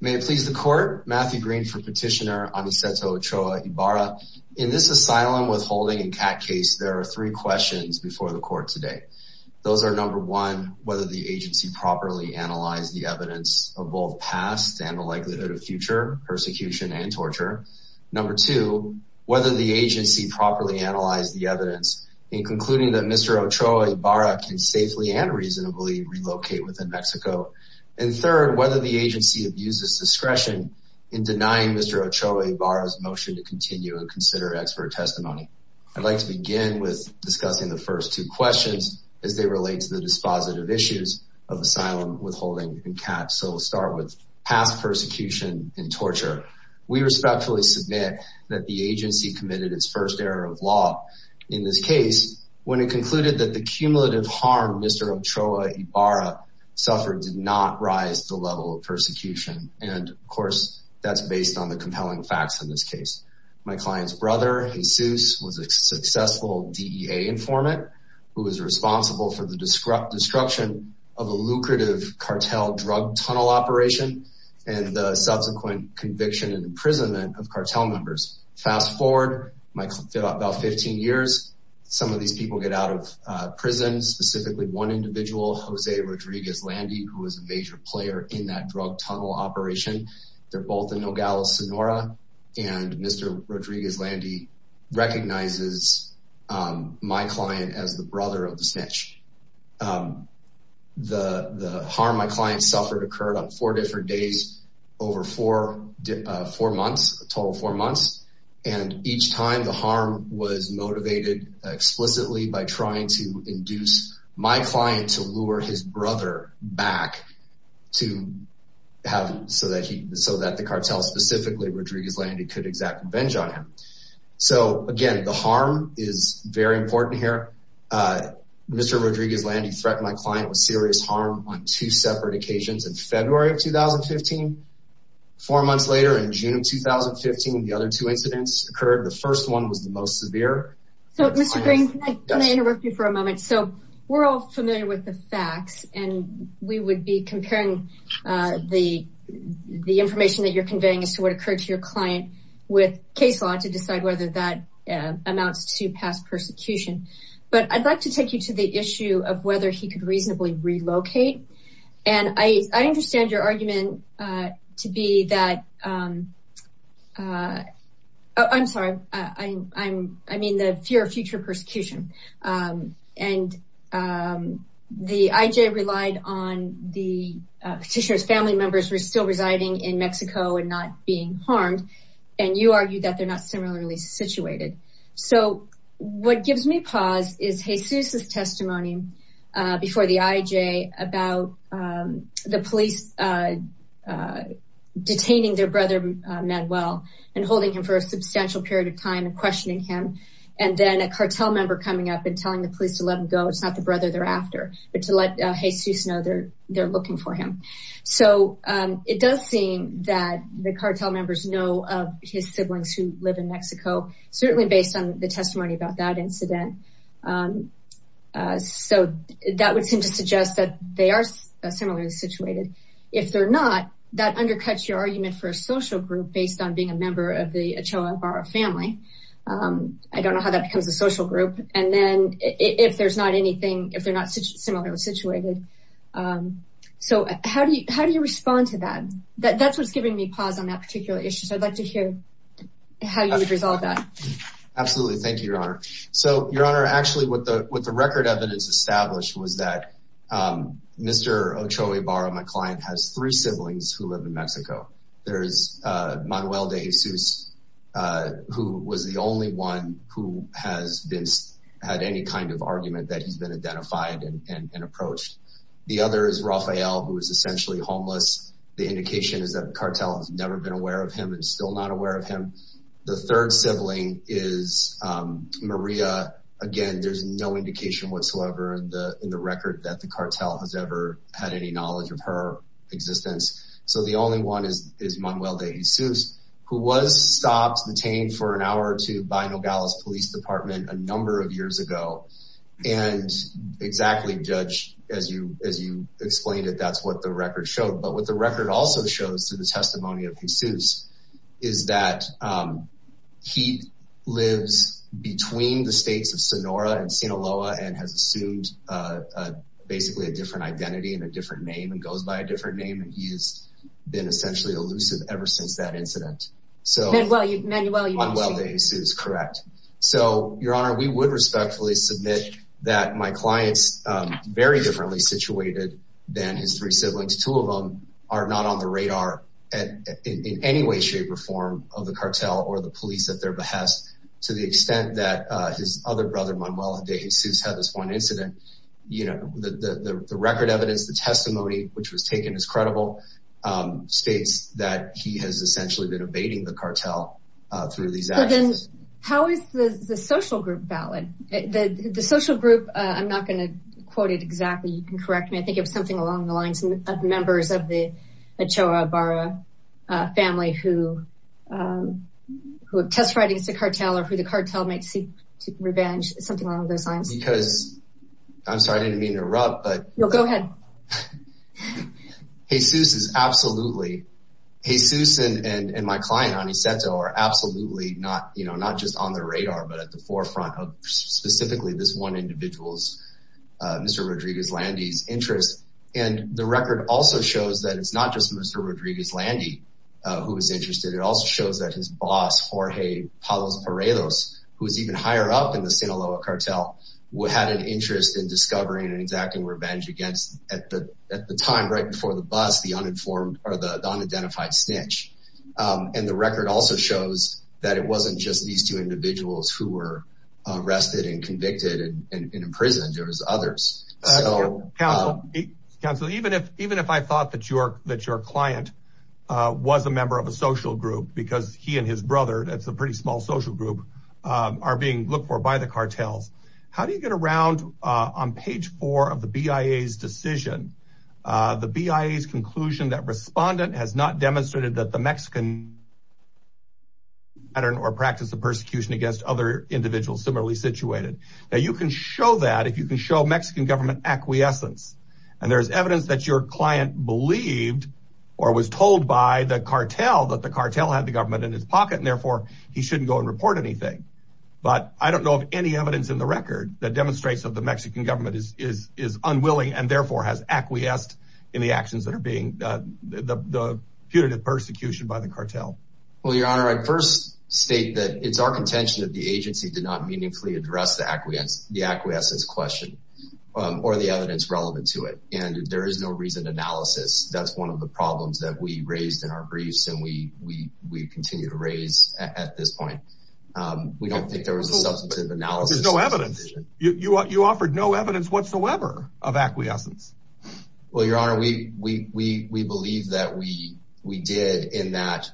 May it please the court, Matthew Green for petitioner Aniseto Ochoa Ibarra. In this asylum withholding and CAT case there are three questions before the court today. Those are number one, whether the agency properly analyzed the evidence of both past and the likelihood of future persecution and torture. Number two, whether the agency properly analyzed the evidence in concluding that Mr. Ochoa Ibarra can safely and reasonably relocate within Mexico. And third, whether the agency abuses discretion in denying Mr. Ochoa Ibarra's motion to continue and consider expert testimony. I'd like to begin with discussing the first two questions as they relate to the dispositive issues of asylum withholding and CAT. So we'll start with past persecution and torture. We respectfully submit that the agency committed its first error of law in this case when it persecution. And of course, that's based on the compelling facts in this case. My client's brother Jesus was a successful DEA informant who was responsible for the destruction of a lucrative cartel drug tunnel operation and the subsequent conviction and imprisonment of cartel members. Fast forward about 15 years, some of these people get out of prison, specifically one individual, Jose Rodriguez-Landy, who was a major player in that drug tunnel operation. They're both in Nogales, Sonora, and Mr. Rodriguez-Landy recognizes my client as the brother of the snitch. The harm my client suffered occurred on four different days over four months, a total of four months later in June of 2015, the other two incidents occurred. The first one was the most severe. So Mr. Green, can I interrupt you for a moment? So we're all familiar with the facts and we would be comparing the information that you're conveying as to what occurred to your client with case law to decide whether that amounts to past persecution. But I'd like to take you to the issue of whether he could reasonably relocate. And I understand your argument to be that, I'm sorry, I mean the fear of future persecution. And the IJ relied on the petitioner's family members were still residing in Mexico and not being harmed. And you argued that they're not similarly situated. So what gives me pause is Jesus' testimony before the IJ about the police detaining their brother Manuel and holding him for a substantial period of time and questioning him. And then a cartel member coming up and telling the police to let him go. It's not the brother they're after, but to let Jesus know they're looking for him. So it does seem that the cartel members know of his siblings who live in Mexico, certainly based on the testimony about that incident. So that would seem to suggest that they are similarly situated. If they're not, that undercuts your argument for a social group based on being a member of the Ochoa Ibarra family. I don't know how that becomes a social group. And then if there's not anything, if they're not similarly situated. So how do you respond to that? That's what's giving me pause on that particular issue. So I'd like to hear how you would resolve that. Absolutely. Thank you, Your Honor. So Your Honor, actually what the record evidence established was that Mr. Ochoa Ibarra, my client, has three siblings who live in Mexico. There's Manuel de Jesus, who was the only one who has had any kind of argument that he's been identified and approached. The other is Rafael, who is essentially homeless. The indication is that the cartel has never been aware of him and still not aware of him. The third sibling is Maria. Again, there's no indication whatsoever in the record that the cartel has ever had any knowledge of her existence. So the only one is Manuel de Jesus, who was stopped, detained for an hour or two, by Nogales Police Department a number of years ago. And exactly, Judge, as you explained it, that's what the record showed. But what the record also shows through the testimony of Jesus is that he lives between the states of Sonora and Sinaloa and has assumed basically a different identity and a different name and goes by a different name. And he has been essentially elusive ever since that incident. Manuel de Jesus, correct. So Your Honor, we would respectfully submit that my client's very differently situated than his three siblings. Two of them are not on radar in any way, shape or form of the cartel or the police at their behest, to the extent that his other brother Manuel de Jesus had this one incident. The record evidence, the testimony, which was taken as credible, states that he has essentially been evading the cartel through these actions. How is the social group valid? The social group, I'm not going to quote it exactly. You can correct me. I think it was something along the lines of members of the Barra family who who have test writings to cartel or who the cartel might seek to revenge, something along those lines. Because, I'm sorry, I didn't mean to interrupt. But go ahead. Jesus is absolutely, Jesus and my client, Aniceto, are absolutely not, you know, not just on the radar, but at the forefront of specifically this one individual's, Mr. Rodriguez-Landy's, interest. And the record also shows that it's not just Mr. Rodriguez-Landy who was interested. It also shows that his boss, Jorge Palos Paredes, who is even higher up in the Sinaloa cartel, had an interest in discovering and exacting revenge against, at the time, right before the bus, the uninformed or the unidentified snitch. And the record also shows that it wasn't just these two individuals who were arrested and convicted and imprisoned. There's others. Counselor, even if I thought that your client was a member of a social group, because he and his brother, that's a pretty small social group, are being looked for by the cartels, how do you get around on page four of the BIA's decision, the BIA's conclusion that respondent has not demonstrated that the Mexican pattern or practice of persecution against other if you can show Mexican government acquiescence? And there's evidence that your client believed or was told by the cartel that the cartel had the government in his pocket and therefore he shouldn't go and report anything. But I don't know of any evidence in the record that demonstrates that the Mexican government is unwilling and therefore has acquiesced in the actions that are being, the punitive persecution by the cartel. Well, your honor, I first state that it's our contention that the agency did not meaningfully address the acquiescence question or the evidence relevant to it. And there is no reason analysis. That's one of the problems that we raised in our briefs and we continue to raise at this point. We don't think there was a substantive analysis. There's no evidence. You offered no evidence whatsoever of acquiescence. Well, your honor, we believe that we did in that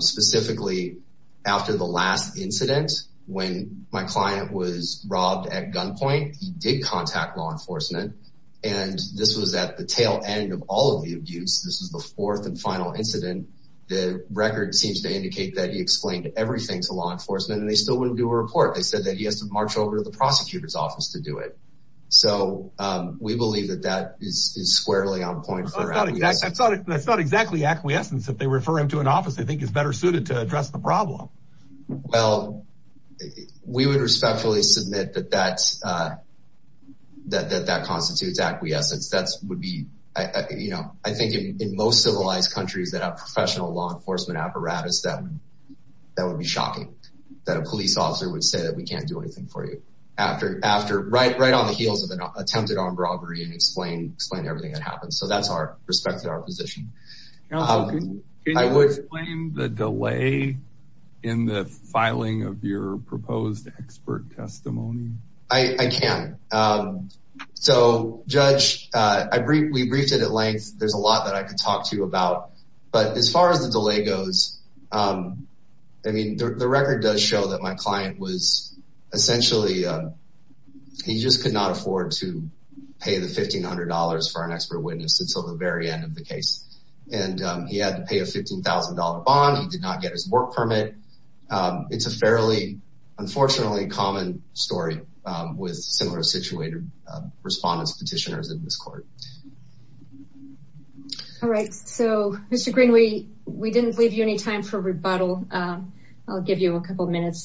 specifically after the last incident when my client was robbed at gunpoint, he did contact law enforcement and this was at the tail end of all of the abuse. This is the fourth and final incident. The record seems to indicate that he explained everything to law enforcement and they still wouldn't do a report. They said that he has to march over to the prosecutor's office to do it. So we believe that that is squarely on point for acquiescence. That's not exactly acquiescence if they refer him to an office they think is better suited to address the problem. Well, we would respectfully submit that that constitutes acquiescence. I think in most civilized countries that have professional law enforcement apparatus, that would be shocking that a police officer would say that we can't do anything for you right on the heels of an attempted armed robbery and explain everything that happened. So that's our respect to our position. Can you explain the delay in the filing of your proposed expert testimony? I can. So judge, we briefed it at length. There's a lot that I could talk to you about. But as far as the delay goes, I mean, the record does show that my client was acquiesced until the very end of the case. And he had to pay a $15,000 bond. He did not get his work permit. It's a fairly, unfortunately, common story with similar situated respondents, petitioners in this court. All right. So, Mr. Green, we didn't leave you any time for rebuttal. I'll give you a minute.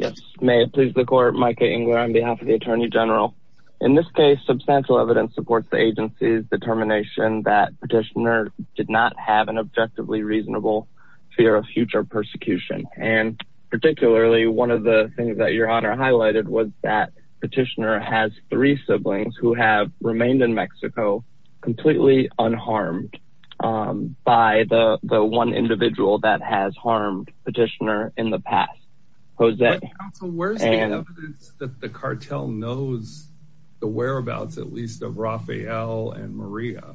Yes. May it please the court. Micah Engler on behalf of the attorney general. In this case, substantial evidence supports the agency's determination that petitioner did not have an objectively reasonable fear of future persecution. And particularly, one of the things that your honor highlighted was that petitioner has three siblings who have the past. Where's the evidence that the cartel knows the whereabouts, at least of Raphael and Maria,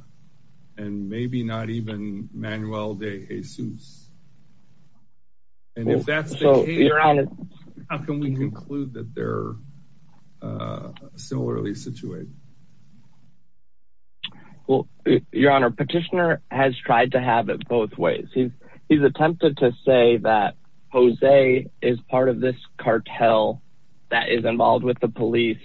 and maybe not even Manuel de Jesus. And if that's the case, how can we conclude that they're similarly situated? Well, your honor, petitioner has tried to have it both ways. He's attempted to say that Jose is part of this cartel that is involved with the police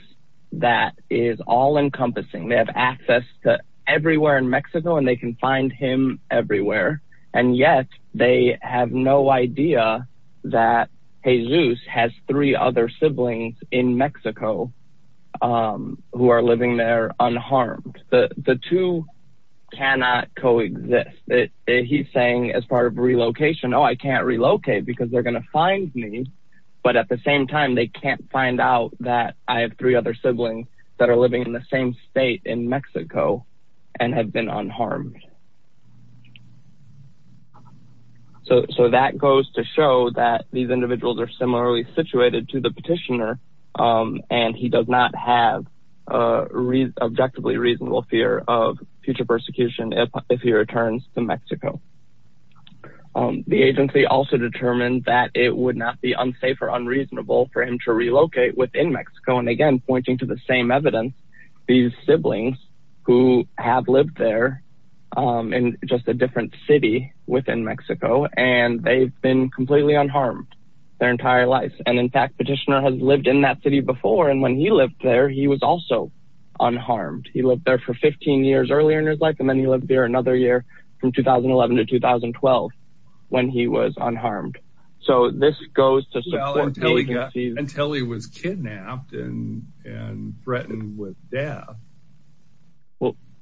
that is all-encompassing. They have access to everywhere in Mexico and they can find him everywhere. And yet, they have no idea that Jesus has three other siblings in Mexico who are living there unharmed. The two cannot co-exist. He's saying as part of relocation, oh I can't relocate because they're going to find me. But at the same time, they can't find out that I have three other siblings that are living in the same state in Mexico and have been unharmed. So that goes to show that these individuals are similarly situated to the petitioner and he does not have an objectively reasonable fear of future persecution if he returns to Mexico. The agency also determined that it would not be unsafe or unreasonable for him to relocate within Mexico. And again, pointing to the same evidence, these siblings who have lived there in just a different city within Mexico, and they've been completely unharmed their entire life. And in fact, petitioner has lived in that city before and when he lived there, he was also unharmed. He lived there for 15 years earlier in his life and then he lived there another year from 2011 to 2012 when he was unharmed. So this goes to support until he got until he was kidnapped and and threatened with death.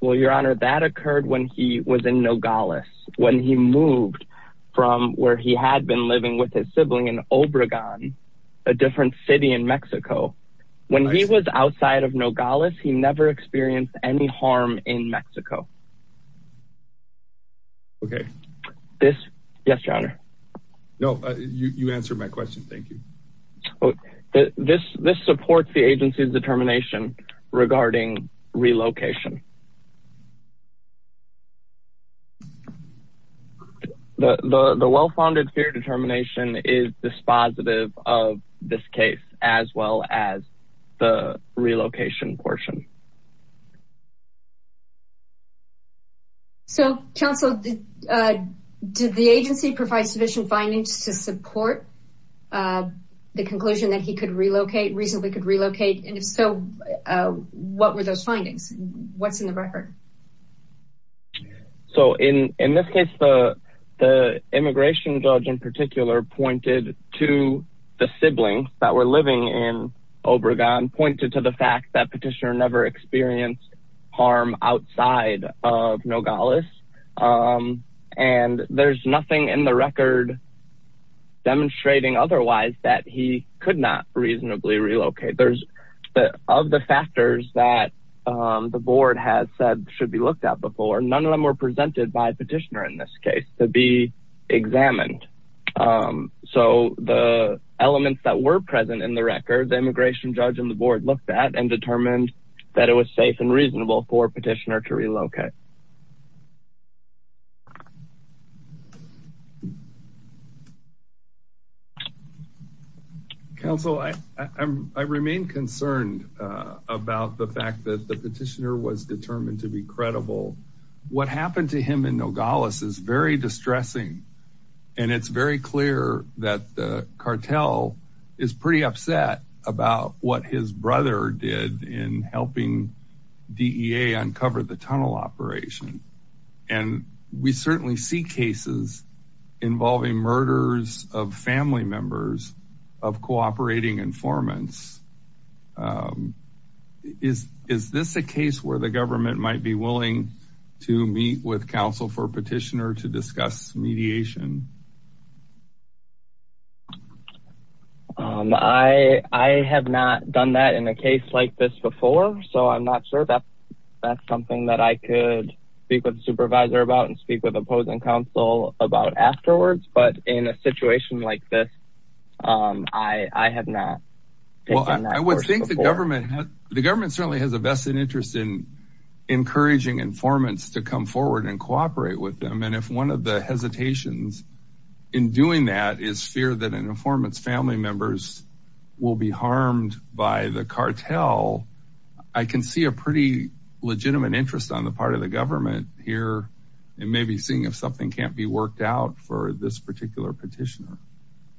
Well your honor, that occurred when he was in Nogales. When he moved from where he had been living with his sibling in Obregon, a different city in Mexico. When he was outside of Nogales, he never experienced any harm in Mexico. Okay. Yes, your honor. No, you answered my question. Thank you. This supports the agency's determination regarding relocation. The well-founded fear determination is dispositive of this case as well as the relocation portion. So counsel, did the agency provide sufficient findings to support the conclusion that he could relocate, reasonably could relocate? And if so, what were those findings? What's in the record? So in this case, the immigration judge in particular pointed to the siblings that were living in Obregon, pointed to the fact that petitioner never experienced harm outside of Nogales. And there's nothing in the record demonstrating otherwise that he could not relocate. None of the factors that the board has said should be looked at before, none of them were presented by a petitioner in this case to be examined. So the elements that were present in the record, the immigration judge and the board looked at and determined that it was safe and about the fact that the petitioner was determined to be credible. What happened to him in Nogales is very distressing. And it's very clear that the cartel is pretty upset about what his brother did in helping DEA uncover the tunnel operation. And we certainly see cases involving murders of family members of cooperating informants. Is this a case where the government might be willing to meet with counsel for petitioner to discuss mediation? I have not done that in a case like this before. So I'm not sure that that's something that I could speak with the supervisor about and speak with opposing counsel about afterwards. But in a government certainly has a vested interest in encouraging informants to come forward and cooperate with them. And if one of the hesitations in doing that is fear that an informant's family members will be harmed by the cartel, I can see a pretty legitimate interest on the part of the government here and maybe seeing if something can't be worked out for this particular petitioner,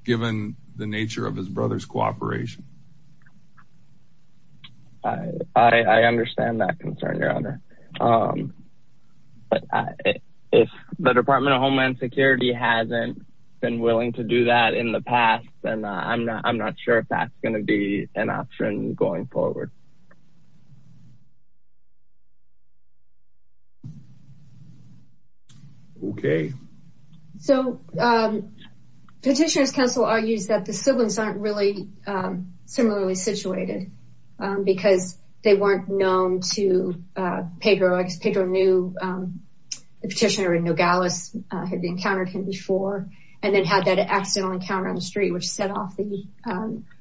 given the nature of his brother's cooperation. I understand that concern, your honor. But if the Department of Homeland Security hasn't been willing to do that in the past, then I'm not sure if that's going to be an option going forward. Okay. So petitioner's counsel argues that the siblings aren't really similarly situated, because they weren't known to Pedro. Pedro knew the petitioner in Nogales had encountered him before and then had that accidental encounter on the street, which set off the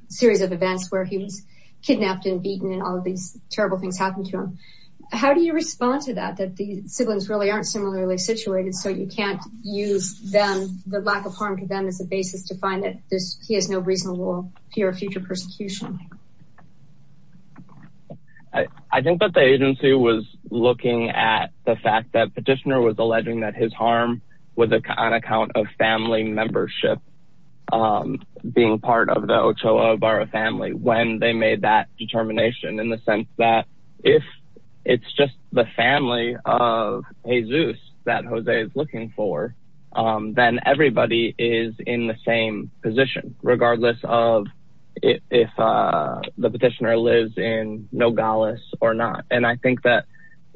series of events where he was kidnapped and beaten and all of these terrible things happened to him. How do you respond to that, that the siblings really aren't similarly situated, so you can't use the lack of harm to them as a basis to find that he has no reasonable fear of future persecution? I think that the agency was looking at the fact that petitioner was alleging that his harm was on account of family membership, being part of the Ochoa family when they made that determination in the sense that if it's just the family of Jesus that Jose is looking for, then everybody is in the same position, regardless of if the petitioner lives in Nogales or not. And I think that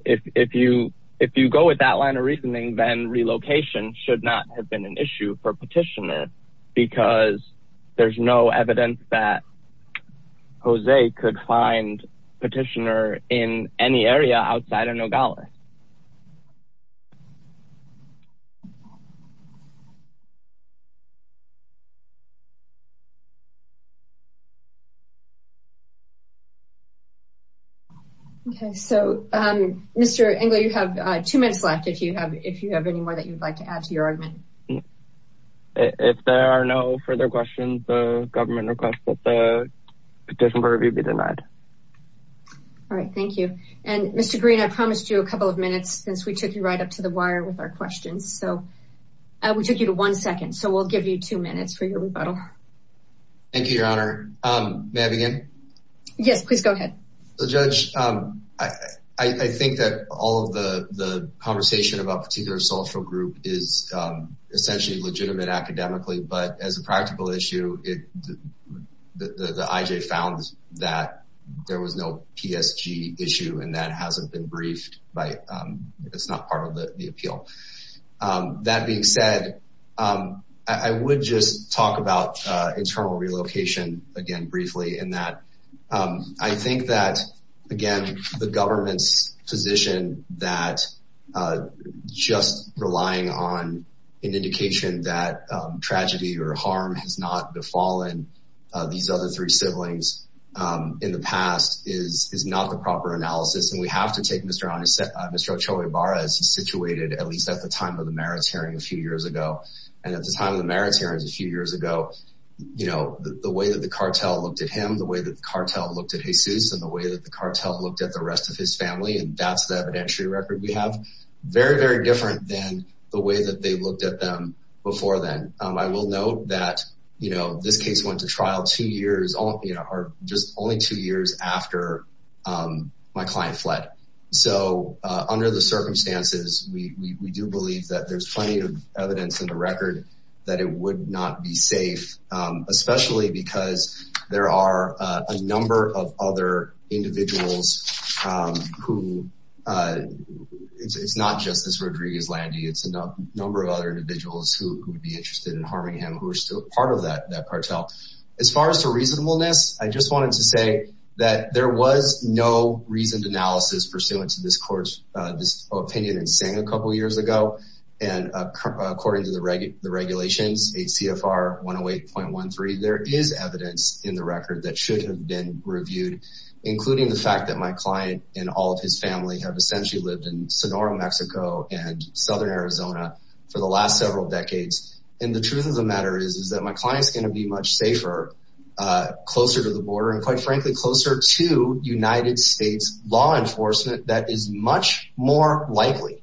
if you go with that line of reasoning, then relocation should not have been an issue for petitioner, because there's no evidence that Jose could find petitioner in any area outside of Nogales. Okay, so Mr. Engler, you have two minutes left if you have any more that you'd like to add to your argument. If there are no further questions, the government requests that the petition for review be denied. All right, thank you. And Mr. Green, I promised you a couple of minutes since we took you right up to the wire with our questions, so we took you to one second, so we'll give you two minutes for your rebuttal. Thank you, Your Honor. May I begin? Yes, please go ahead. So, Judge, I think that all of the conversation about particular social group is essentially legitimate academically, but as a practical issue, the IJ found that there was no PSG issue and that hasn't been briefed, but it's not part of the appeal. That being said, I would just talk about internal relocation again briefly in that I think that, again, the government's position that just relying on an indication that tragedy or harm has not befallen these other three siblings in the past is not the proper analysis, and we have to take Mr. Ochoa Ibarra as he's situated at least at the time of the merits hearing a few years ago. And at the time of the merits hearing a few years ago, the way that the cartel looked at him, the way that the cartel looked at Jesus, and the way that the cartel looked at the rest of his family, and that's the evidentiary record we have, very, very different than the way that they looked at them before then. I will note that this case went to trial just only two years after my client fled. So under the circumstances, we do believe that there's plenty of evidence in the record that it would not be safe, especially because there are a number of other individuals who, it's not just this Rodriguez it's a number of other individuals who would be interested in harming him who are still part of that cartel. As far as the reasonableness, I just wanted to say that there was no reasoned analysis pursuant to this court's opinion and saying a couple years ago, and according to the regulations, ACFR 108.13, there is evidence in the record that should have been reviewed, including the fact that my client and all of his family have essentially lived in Sonora, Mexico, and Southern Arizona for the last several decades. And the truth of the matter is, is that my client's going to be much safer, closer to the border, and quite frankly, closer to United States law enforcement that is much more likely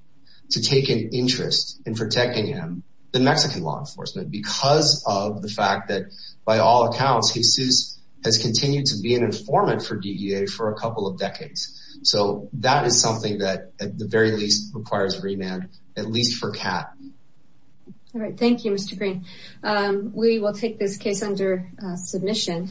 to take an interest in protecting him than Mexican law enforcement, because of the fact that by all accounts, Jesus has continued to be an informant for DEA for a So that is something that at the very least requires a remand, at least for CAAT. All right. Thank you, Mr. Green. We will take this case under submission.